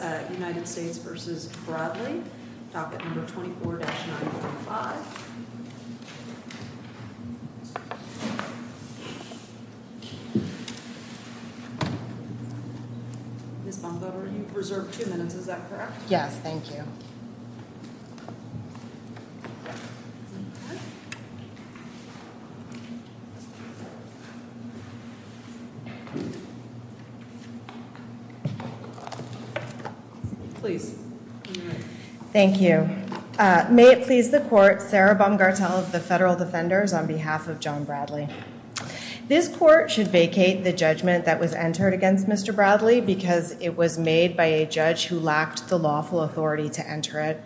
24-9.5 Ms. Bomfetter, you reserved two minutes, is that correct? Yes, thank you. Please. Thank you. May it please the court, Sarah Bomgartel of the Federal Defenders on behalf of John Bradley. This court should vacate the judgment that was entered against Mr. Bradley because it was made by a judge who lacked the lawful authority to enter it.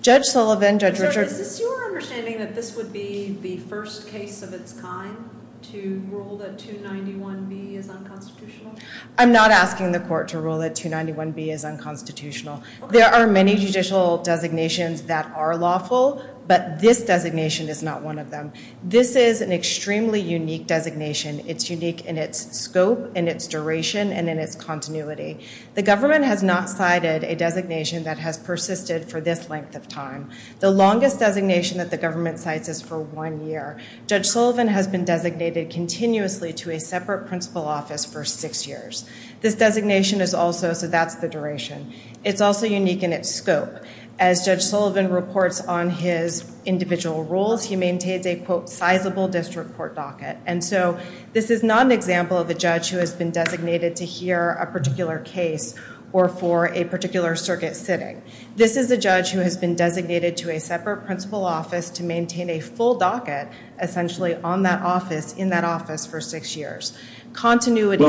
Judge Sullivan, Judge Richard. Is this your understanding that this would be the first case of its kind to rule that 291B is unconstitutional? I'm not asking the court to rule that 291B is unconstitutional. There are many judicial designations that are lawful, but this designation is not one of them. This is an extremely unique designation. It's unique in its scope, in its duration, and in its continuity. The government has not cited a designation that has persisted for this length of time. The longest designation that the government cites is for one year. Judge Sullivan has been designated continuously to a separate principal office for six years. This designation is also, so that's the duration. It's also unique in its scope. As Judge Sullivan reports on his individual rules, he maintains a, quote, sizable district court docket. And so this is not an example of a judge who has been designated to hear a particular case or for a particular circuit sitting. This is a judge who has been designated to a separate principal office to maintain a full docket, essentially, on that office, in that office for six years. Continuity.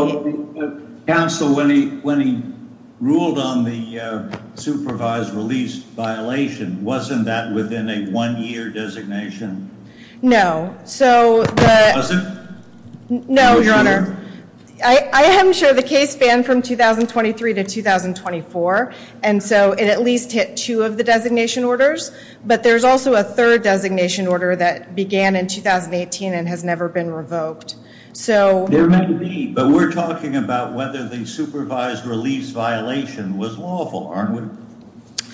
Counsel, when he ruled on the supervised release violation, wasn't that within a one-year designation? No. Was it? No, Your Honor. I am sure the case spanned from 2023 to 2024. And so it at least hit two of the designation orders. But there's also a third designation order that began in 2018 and has never been revoked. There might be, but we're talking about whether the supervised release violation was lawful, aren't we?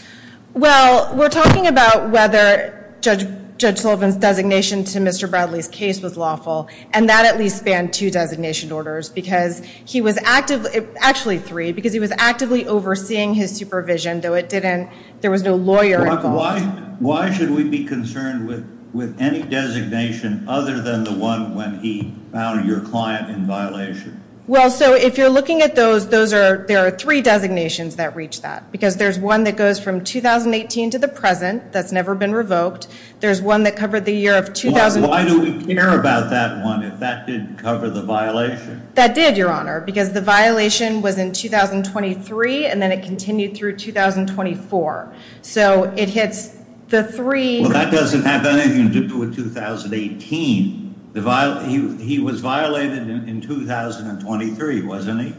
Well, we're talking about whether Judge Sullivan's designation to Mr. Bradley's case was lawful. And that at least spanned two designation orders because he was actively, actually three, because he was actively overseeing his supervision, though it didn't, there was no lawyer involved. Why should we be concerned with any designation other than the one when he found your client in violation? Well, so if you're looking at those, those are, there are three designations that reach that. Because there's one that goes from 2018 to the present that's never been revoked. There's one that covered the year of 2000. Why do we care about that one if that didn't cover the violation? That did, Your Honor, because the violation was in 2023 and then it continued through 2024. So it hits the three. Well, that doesn't have anything to do with 2018. He was violated in 2023, wasn't he?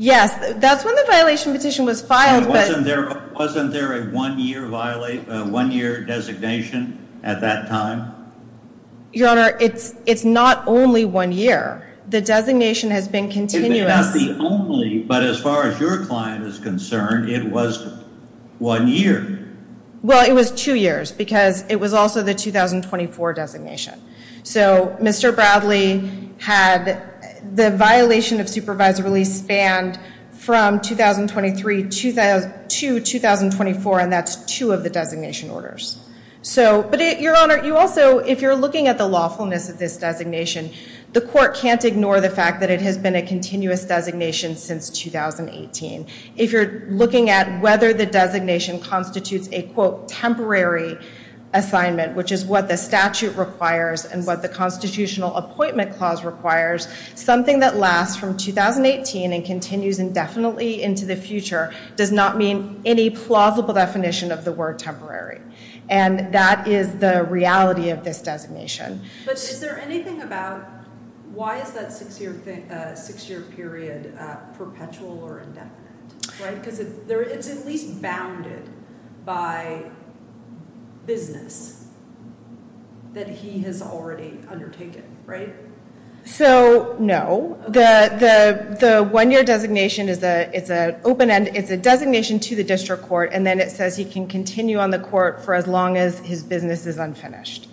Yes, that's when the violation petition was filed. Wasn't there a one-year designation at that time? Your Honor, it's not only one year. The designation has been continuous. It may not be only, but as far as your client is concerned, it was one year. Well, it was two years because it was also the 2024 designation. So Mr. Bradley had the violation of supervisory release banned from 2023 to 2024, and that's two of the designation orders. So, but Your Honor, you also, if you're looking at the lawfulness of this designation, the court can't ignore the fact that it has been a continuous designation since 2018. If you're looking at whether the designation constitutes a, quote, what the statute requires and what the constitutional appointment clause requires, something that lasts from 2018 and continues indefinitely into the future does not mean any plausible definition of the word temporary. And that is the reality of this designation. But is there anything about why is that six-year period perpetual or indefinite? Right, because it's at least bounded by business that he has already undertaken, right? So, no. The one-year designation is an open end. It's a designation to the district court, and then it says he can continue on the court for as long as his business is unfinished.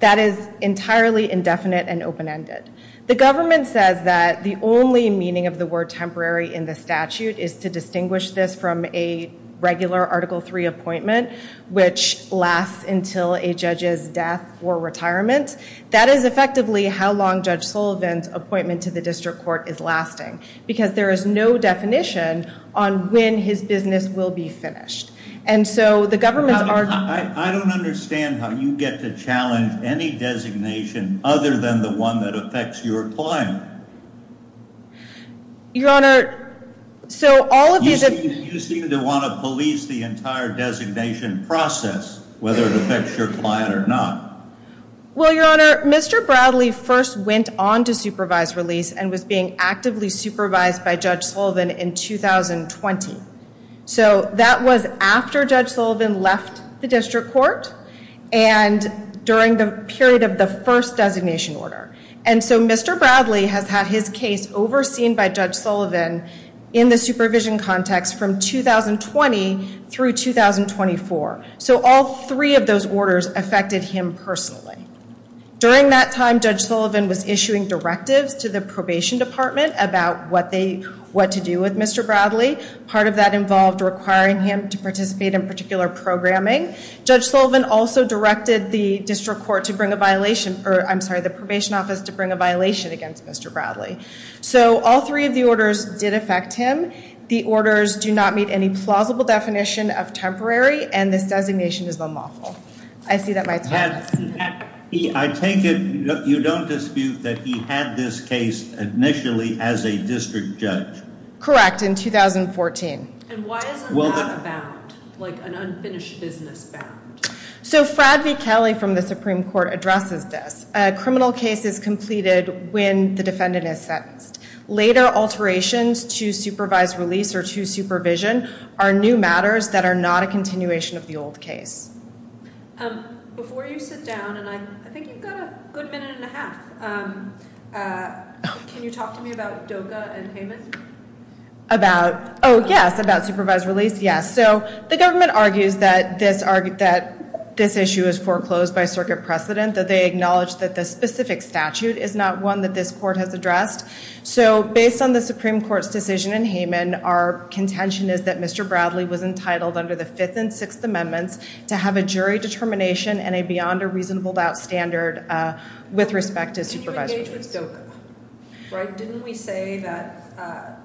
That is entirely indefinite and open-ended. The government says that the only meaning of the word temporary in the statute is to distinguish this from a regular Article III appointment, which lasts until a judge's death or retirement. That is effectively how long Judge Sullivan's appointment to the district court is lasting, because there is no definition on when his business will be finished. And so the government's argument— I don't understand how you get to challenge any designation other than the one that affects your client. Your Honor, so all of these— You seem to want to police the entire designation process, whether it affects your client or not. Well, Your Honor, Mr. Bradley first went on to supervised release and was being actively supervised by Judge Sullivan in 2020. So that was after Judge Sullivan left the district court and during the period of the first designation order. And so Mr. Bradley has had his case overseen by Judge Sullivan in the supervision context from 2020 through 2024. So all three of those orders affected him personally. During that time, Judge Sullivan was issuing directives to the Probation Department about what to do with Mr. Bradley. Part of that involved requiring him to participate in particular programming. Judge Sullivan also directed the district court to bring a violation— I'm sorry, the Probation Office to bring a violation against Mr. Bradley. So all three of the orders did affect him. The orders do not meet any plausible definition of temporary, and this designation is unlawful. I see that my time has— I take it you don't dispute that he had this case initially as a district judge? Correct, in 2014. And why is it not bound, like an unfinished business bound? So Frad V. Kelly from the Supreme Court addresses this. A criminal case is completed when the defendant is sentenced. Later alterations to supervised release or to supervision are new matters that are not a continuation of the old case. Before you sit down, and I think you've got a good minute and a half, can you talk to me about DOCA and Hayman? About—oh, yes, about supervised release, yes. So the government argues that this issue is foreclosed by circuit precedent, that they acknowledge that the specific statute is not one that this court has addressed. So based on the Supreme Court's decision in Hayman, our contention is that Mr. Bradley was entitled under the Fifth and Sixth Amendments to have a jury determination and a beyond-a-reasonable-doubt standard with respect to supervised release. Can you engage with DOCA? Didn't we say that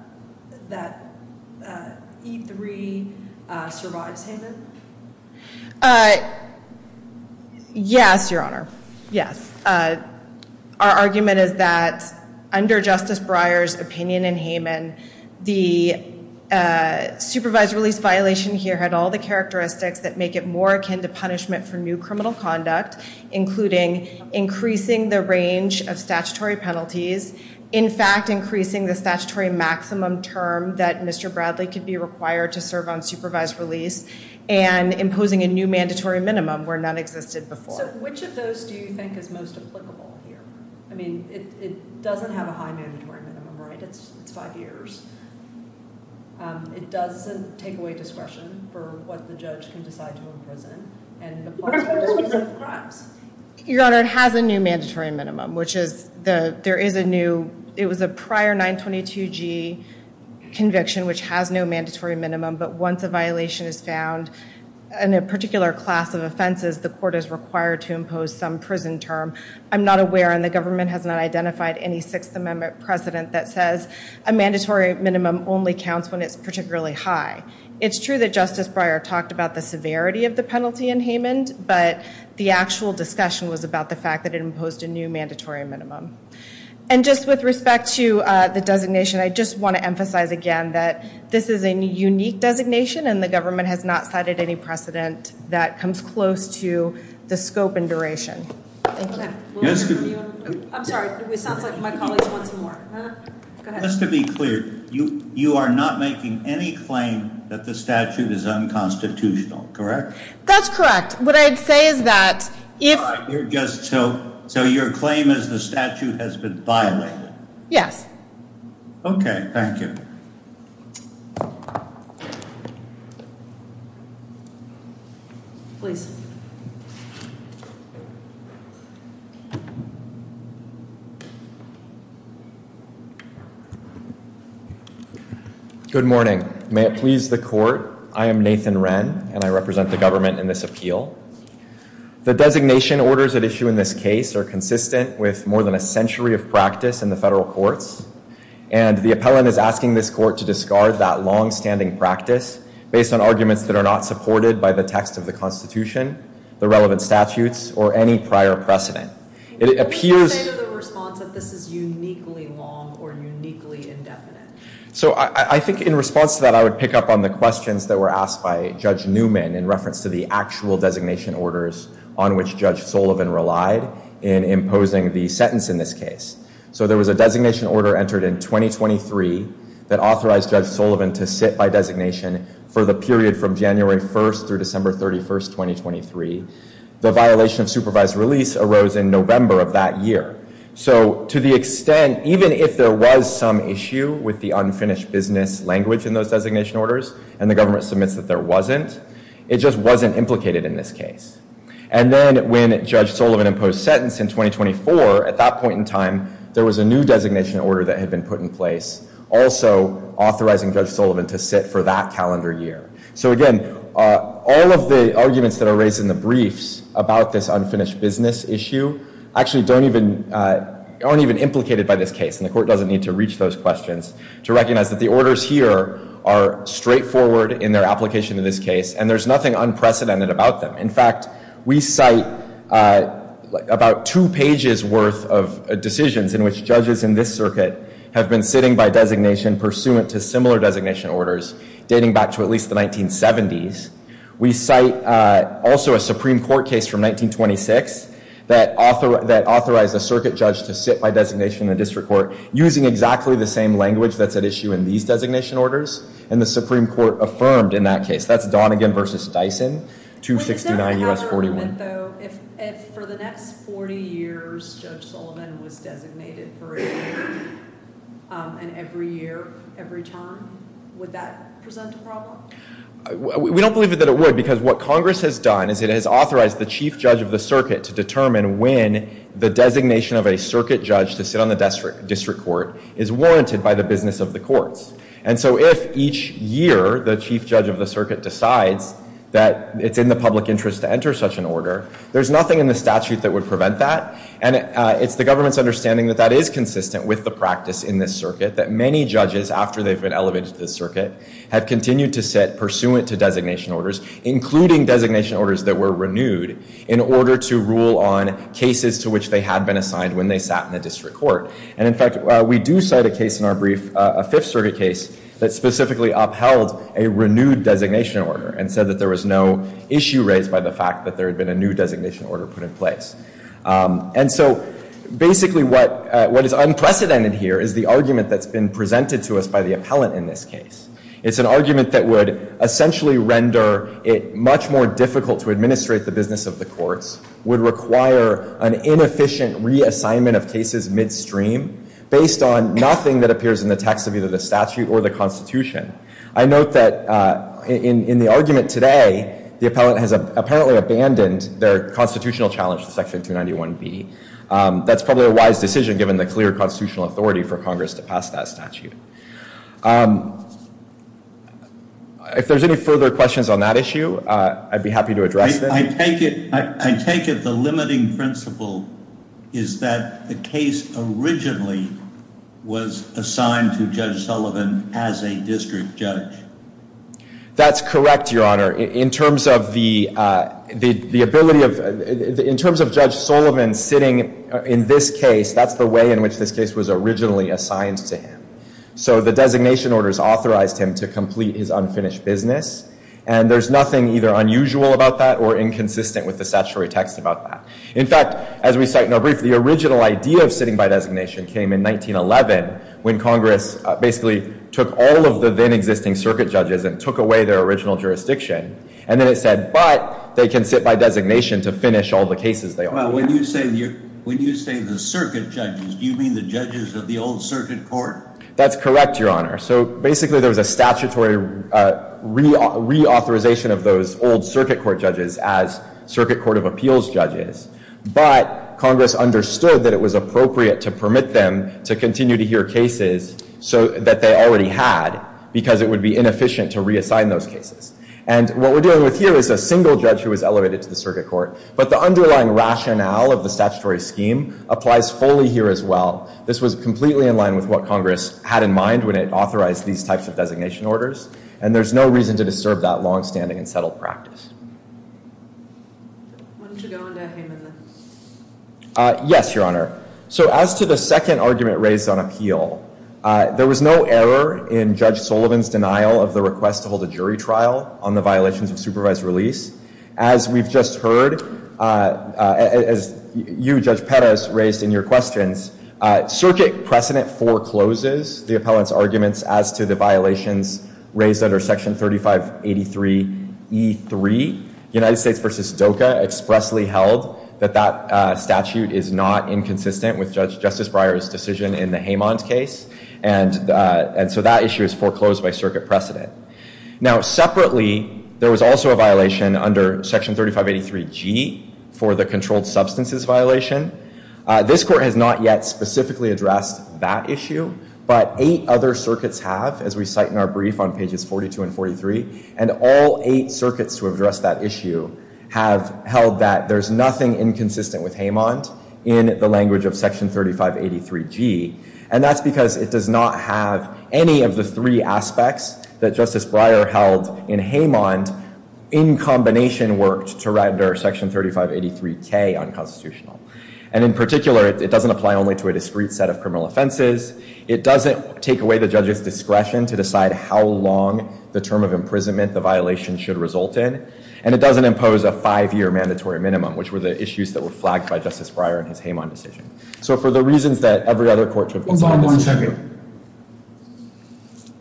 E3 survives Hayman? Yes, Your Honor, yes. Our argument is that under Justice Breyer's opinion in Hayman, the supervised release violation here had all the characteristics that make it more akin to punishment for new criminal conduct, including increasing the range of statutory penalties, in fact increasing the statutory maximum term that Mr. Bradley could be required to serve on supervised release, and imposing a new mandatory minimum where none existed before. So which of those do you think is most applicable here? I mean, it doesn't have a high mandatory minimum, right? It's five years. It does take away discretion for what the judge can decide to imprison, and the possibility of crimes. Your Honor, it has a new mandatory minimum, which is there is a new, it was a prior 922G conviction which has no mandatory minimum, but once a violation is found in a particular class of offenses, the court is required to impose some prison term. I'm not aware, and the government has not identified any Sixth Amendment precedent that says a mandatory minimum only counts when it's particularly high. It's true that Justice Breyer talked about the severity of the penalty in Hayman, but the actual discussion was about the fact that it imposed a new mandatory minimum. And just with respect to the designation, I just want to emphasize again that this is a unique designation, and the government has not cited any precedent that comes close to the scope and duration. I'm sorry, it sounds like my colleague wants more. Just to be clear, you are not making any claim that the statute is unconstitutional, correct? That's correct. What I'd say is that if So your claim is the statute has been violated? Yes. Okay, thank you. Please. Good morning. May it please the court, I am Nathan Wren, and I represent the government in this appeal. The designation orders at issue in this case are consistent with more than a century of practice in the federal courts, and the appellant is asking this court to discard that long-standing practice based on arguments that are not supported by the text of the Constitution, the relevant statutes, or any prior precedent. It appears Can you say to the response that this is uniquely long or uniquely indefinite? So I think in response to that, I would pick up on the questions that were asked by Judge Newman in reference to the actual designation orders on which Judge Sullivan relied in imposing the sentence in this case. So there was a designation order entered in 2023 that authorized Judge Sullivan to sit by designation for the period from January 1st through December 31st, 2023. The violation of supervised release arose in November of that year. So to the extent, even if there was some issue with the unfinished business language in those designation orders, and the government submits that there wasn't, it just wasn't implicated in this case. And then when Judge Sullivan imposed sentence in 2024, at that point in time, there was a new designation order that had been put in place also authorizing Judge Sullivan to sit for that calendar year. So again, all of the arguments that are raised in the briefs about this unfinished business issue actually aren't even implicated by this case, and the Court doesn't need to reach those questions to recognize that the orders here are straightforward in their application in this case, and there's nothing unprecedented about them. In fact, we cite about two pages' worth of decisions in which judges in this circuit have been sitting by designation pursuant to similar designation orders dating back to at least the 1970s. We cite also a Supreme Court case from 1926 that authorized a circuit judge to sit by designation in the district court using exactly the same language that's at issue in these designation orders, and the Supreme Court affirmed in that case. That's Donegan v. Dyson, 269 U.S. 41. If for the next 40 years Judge Sullivan was designated for a year, and every year, every term, would that present a problem? We don't believe that it would, because what Congress has done is it has authorized the chief judge of the circuit to determine when the designation of a circuit judge to sit on the district court is warranted by the business of the courts. And so if each year the chief judge of the circuit decides that it's in the public interest to enter such an order, there's nothing in the statute that would prevent that, and it's the government's understanding that that is consistent with the practice in this circuit, that many judges, after they've been elevated to the circuit, have continued to sit pursuant to designation orders, including designation orders that were renewed in order to rule on cases to which they had been assigned when they sat in the district court. And in fact, we do cite a case in our brief, a Fifth Circuit case, that specifically upheld a renewed designation order and said that there was no issue raised by the fact that there had been a new designation order put in place. And so basically what is unprecedented here is the argument that's been presented to us by the appellant in this case. It's an argument that would essentially render it much more difficult to administrate the business of the courts, would require an inefficient reassignment of cases midstream based on nothing that appears in the text of either the statute or the Constitution. I note that in the argument today, the appellant has apparently abandoned their constitutional challenge to Section 291B. That's probably a wise decision, given the clear constitutional authority for Congress to pass that statute. If there's any further questions on that issue, I'd be happy to address them. I take it the limiting principle is that the case originally was assigned to Judge Sullivan as a district judge. That's correct, Your Honor. In terms of Judge Sullivan sitting in this case, that's the way in which this case was originally assigned to him. So the designation orders authorized him to complete his unfinished business, and there's nothing either unusual about that or inconsistent with the statutory text about that. In fact, as we cite in our brief, the original idea of sitting by designation came in 1911, when Congress basically took all of the then-existing circuit judges and took away their original jurisdiction. And then it said, but they can sit by designation to finish all the cases they ordered. When you say the circuit judges, do you mean the judges of the old circuit court? That's correct, Your Honor. So basically there was a statutory reauthorization of those old circuit court judges as circuit court of appeals judges. But Congress understood that it was appropriate to permit them to continue to hear cases that they already had because it would be inefficient to reassign those cases. And what we're dealing with here is a single judge who was elevated to the circuit court. But the underlying rationale of the statutory scheme applies fully here as well. This was completely in line with what Congress had in mind when it authorized these types of designation orders, and there's no reason to disturb that longstanding and settled practice. Why don't you go on to him in the... Yes, Your Honor. So as to the second argument raised on appeal, there was no error in Judge Sullivan's denial of the request to hold a jury trial on the violations of supervised release. As we've just heard, as you, Judge Perez, raised in your questions, circuit precedent forecloses the appellant's arguments as to the violations raised under Section 3583E3. United States v. DOCA expressly held that that statute is not inconsistent with Justice Breyer's decision in the Haymond case, and so that issue is foreclosed by circuit precedent. Now, separately, there was also a violation under Section 3583G for the controlled substances violation. This court has not yet specifically addressed that issue, but eight other circuits have, as we cite in our brief on pages 42 and 43, and all eight circuits to address that issue have held that there's nothing inconsistent with Haymond in the language of Section 3583G, and that's because it does not have any of the three aspects that Justice Breyer held in Haymond in combination worked to render Section 3583K unconstitutional. And in particular, it doesn't apply only to a discrete set of criminal offenses. It doesn't take away the judge's discretion to decide how long the term of imprisonment the violation should result in, and it doesn't impose a five-year mandatory minimum, which were the issues that were flagged by Justice Breyer in his Haymond decision. So for the reasons that every other court should... Hold on one second.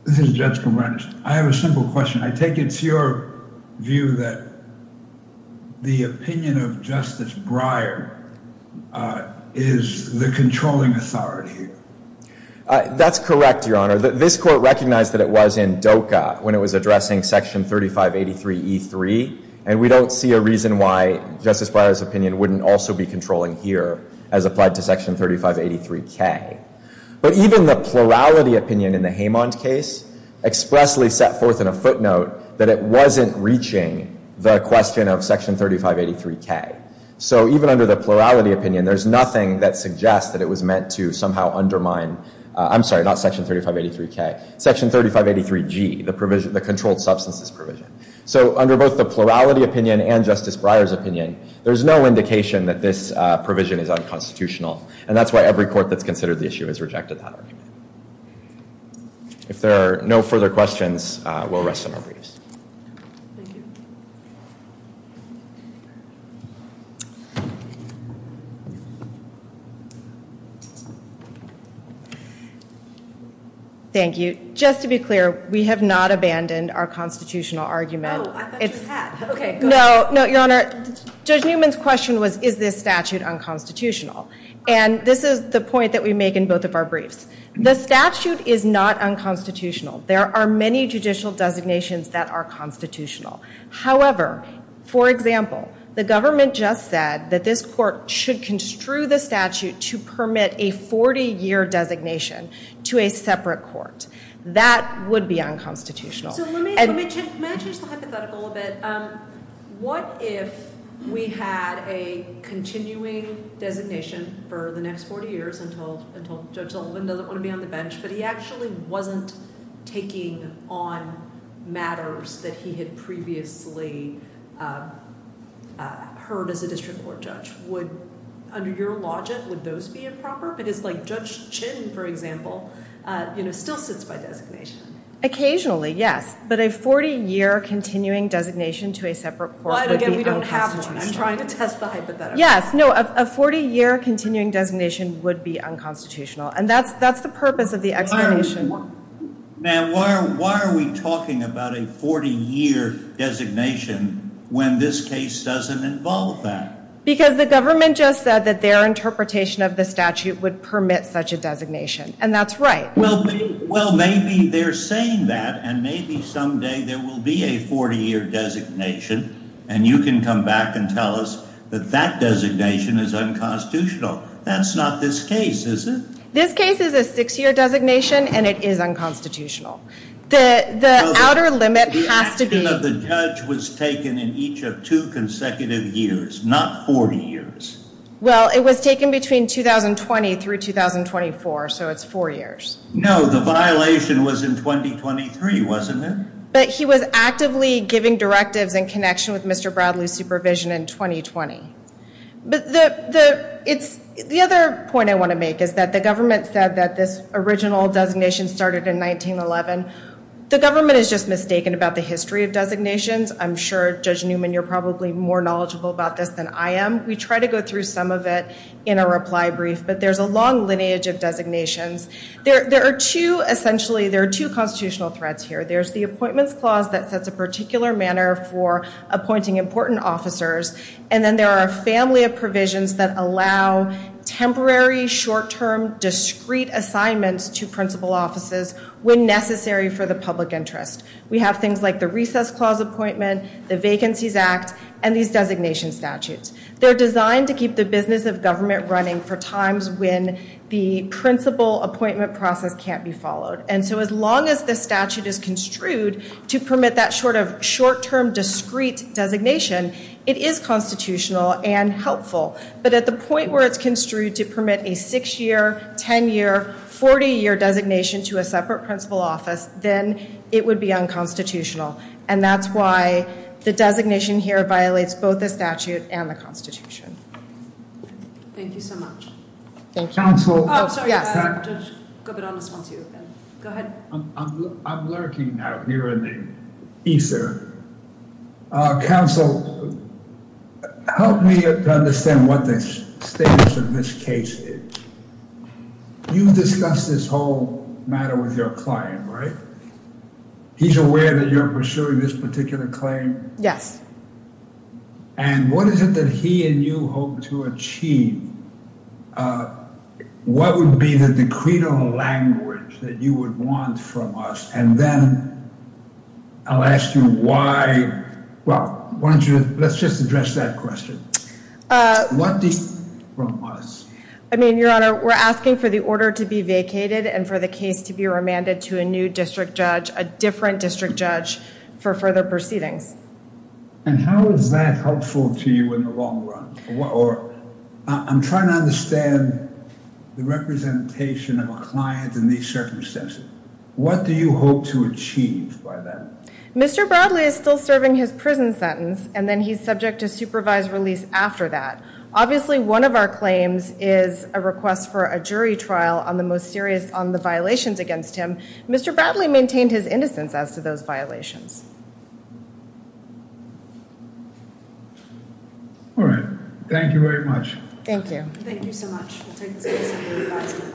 This is Judge Cumberland. I have a simple question. I take it's your view that the opinion of Justice Breyer is the controlling authority? That's correct, Your Honor. This court recognized that it was in DOCA when it was addressing Section 3583E3, and we don't see a reason why Justice Breyer's opinion wouldn't also be controlling here as applied to Section 3583K. But even the plurality opinion in the Haymond case expressly set forth in a footnote that it wasn't reaching the question of Section 3583K. So even under the plurality opinion, there's nothing that suggests that it was meant to somehow undermine... I'm sorry, not Section 3583K. Section 3583G, the controlled substances provision. So under both the plurality opinion and Justice Breyer's opinion, there's no indication that this provision is unconstitutional, and that's why every court that's considered the issue has rejected that argument. If there are no further questions, we'll rest on our briefs. Thank you. Thank you. Just to be clear, we have not abandoned our constitutional argument. No, I thought you had. Okay, go ahead. No, Your Honor, Judge Newman's question was, is this statute unconstitutional? And this is the point that we make in both of our briefs. The statute is not unconstitutional. There are many judicial designations that are constitutional. However, for example, the government just said that this court should construe the statute to permit a 40-year designation to a separate court. That would be unconstitutional. So let me change the hypothetical a bit. What if we had a continuing designation for the next 40 years until Judge Sullivan doesn't want to be on the bench, but he actually wasn't taking on matters that he had previously heard as a district court judge? Under your logic, would those be improper? Because Judge Chin, for example, still sits by designation. Occasionally, yes. But a 40-year continuing designation to a separate court would be unconstitutional. Again, we don't have one. I'm trying to test the hypothetical. Yes. No, a 40-year continuing designation would be unconstitutional. And that's the purpose of the explanation. Ma'am, why are we talking about a 40-year designation when this case doesn't involve that? Because the government just said that their interpretation of the statute would permit such a designation, and that's right. Well, maybe they're saying that, and maybe someday there will be a 40-year designation, and you can come back and tell us that that designation is unconstitutional. That's not this case, is it? This case is a six-year designation, and it is unconstitutional. The outer limit has to be... The action of the judge was taken in each of two consecutive years, not 40 years. Well, it was taken between 2020 through 2024, so it's four years. No, the violation was in 2023, wasn't it? But he was actively giving directives in connection with Mr. Bradley's supervision in 2020. But the other point I want to make is that the government said that this original designation started in 1911. The government is just mistaken about the history of designations. I'm sure, Judge Newman, you're probably more knowledgeable about this than I am. We try to go through some of it in a reply brief, but there's a long lineage of designations. There are two constitutional threads here. There's the Appointments Clause that sets a particular manner for appointing important officers, and then there are a family of provisions that allow temporary, short-term, discrete assignments to principal offices when necessary for the public interest. We have things like the Recess Clause appointment, the Vacancies Act, and these designation statutes. They're designed to keep the business of government running for times when the principal appointment process can't be followed. And so as long as the statute is construed to permit that sort of short-term, discrete designation, it is constitutional and helpful. But at the point where it's construed to permit a six-year, 10-year, 40-year designation to a separate principal office, then it would be unconstitutional. And that's why the designation here violates both the statute and the Constitution. Thank you so much. Thank you. Oh, sorry. Go ahead. I'm lurking out here in the ether. Counsel, help me to understand what the status of this case is. You've discussed this whole matter with your client, right? He's aware that you're pursuing this particular claim? Yes. And what is it that he and you hope to achieve? What would be the decretal language that you would want from us? And then I'll ask you why... Well, why don't you... Let's just address that question. What do you want from us? I mean, Your Honor, we're asking for the order to be vacated and for the case to be remanded to a new district judge, a different district judge, for further proceedings. And how is that helpful to you in the long run? Or I'm trying to understand the representation of a client in these circumstances. What do you hope to achieve by that? Mr. Bradley is still serving his prison sentence, and then he's subject to supervised release after that. Obviously, one of our claims is a request for a jury trial on the most serious on the violations against him. Mr. Bradley maintained his innocence as to those violations. All right. Thank you very much. Thank you. Thank you so much. We'll take this case under revision.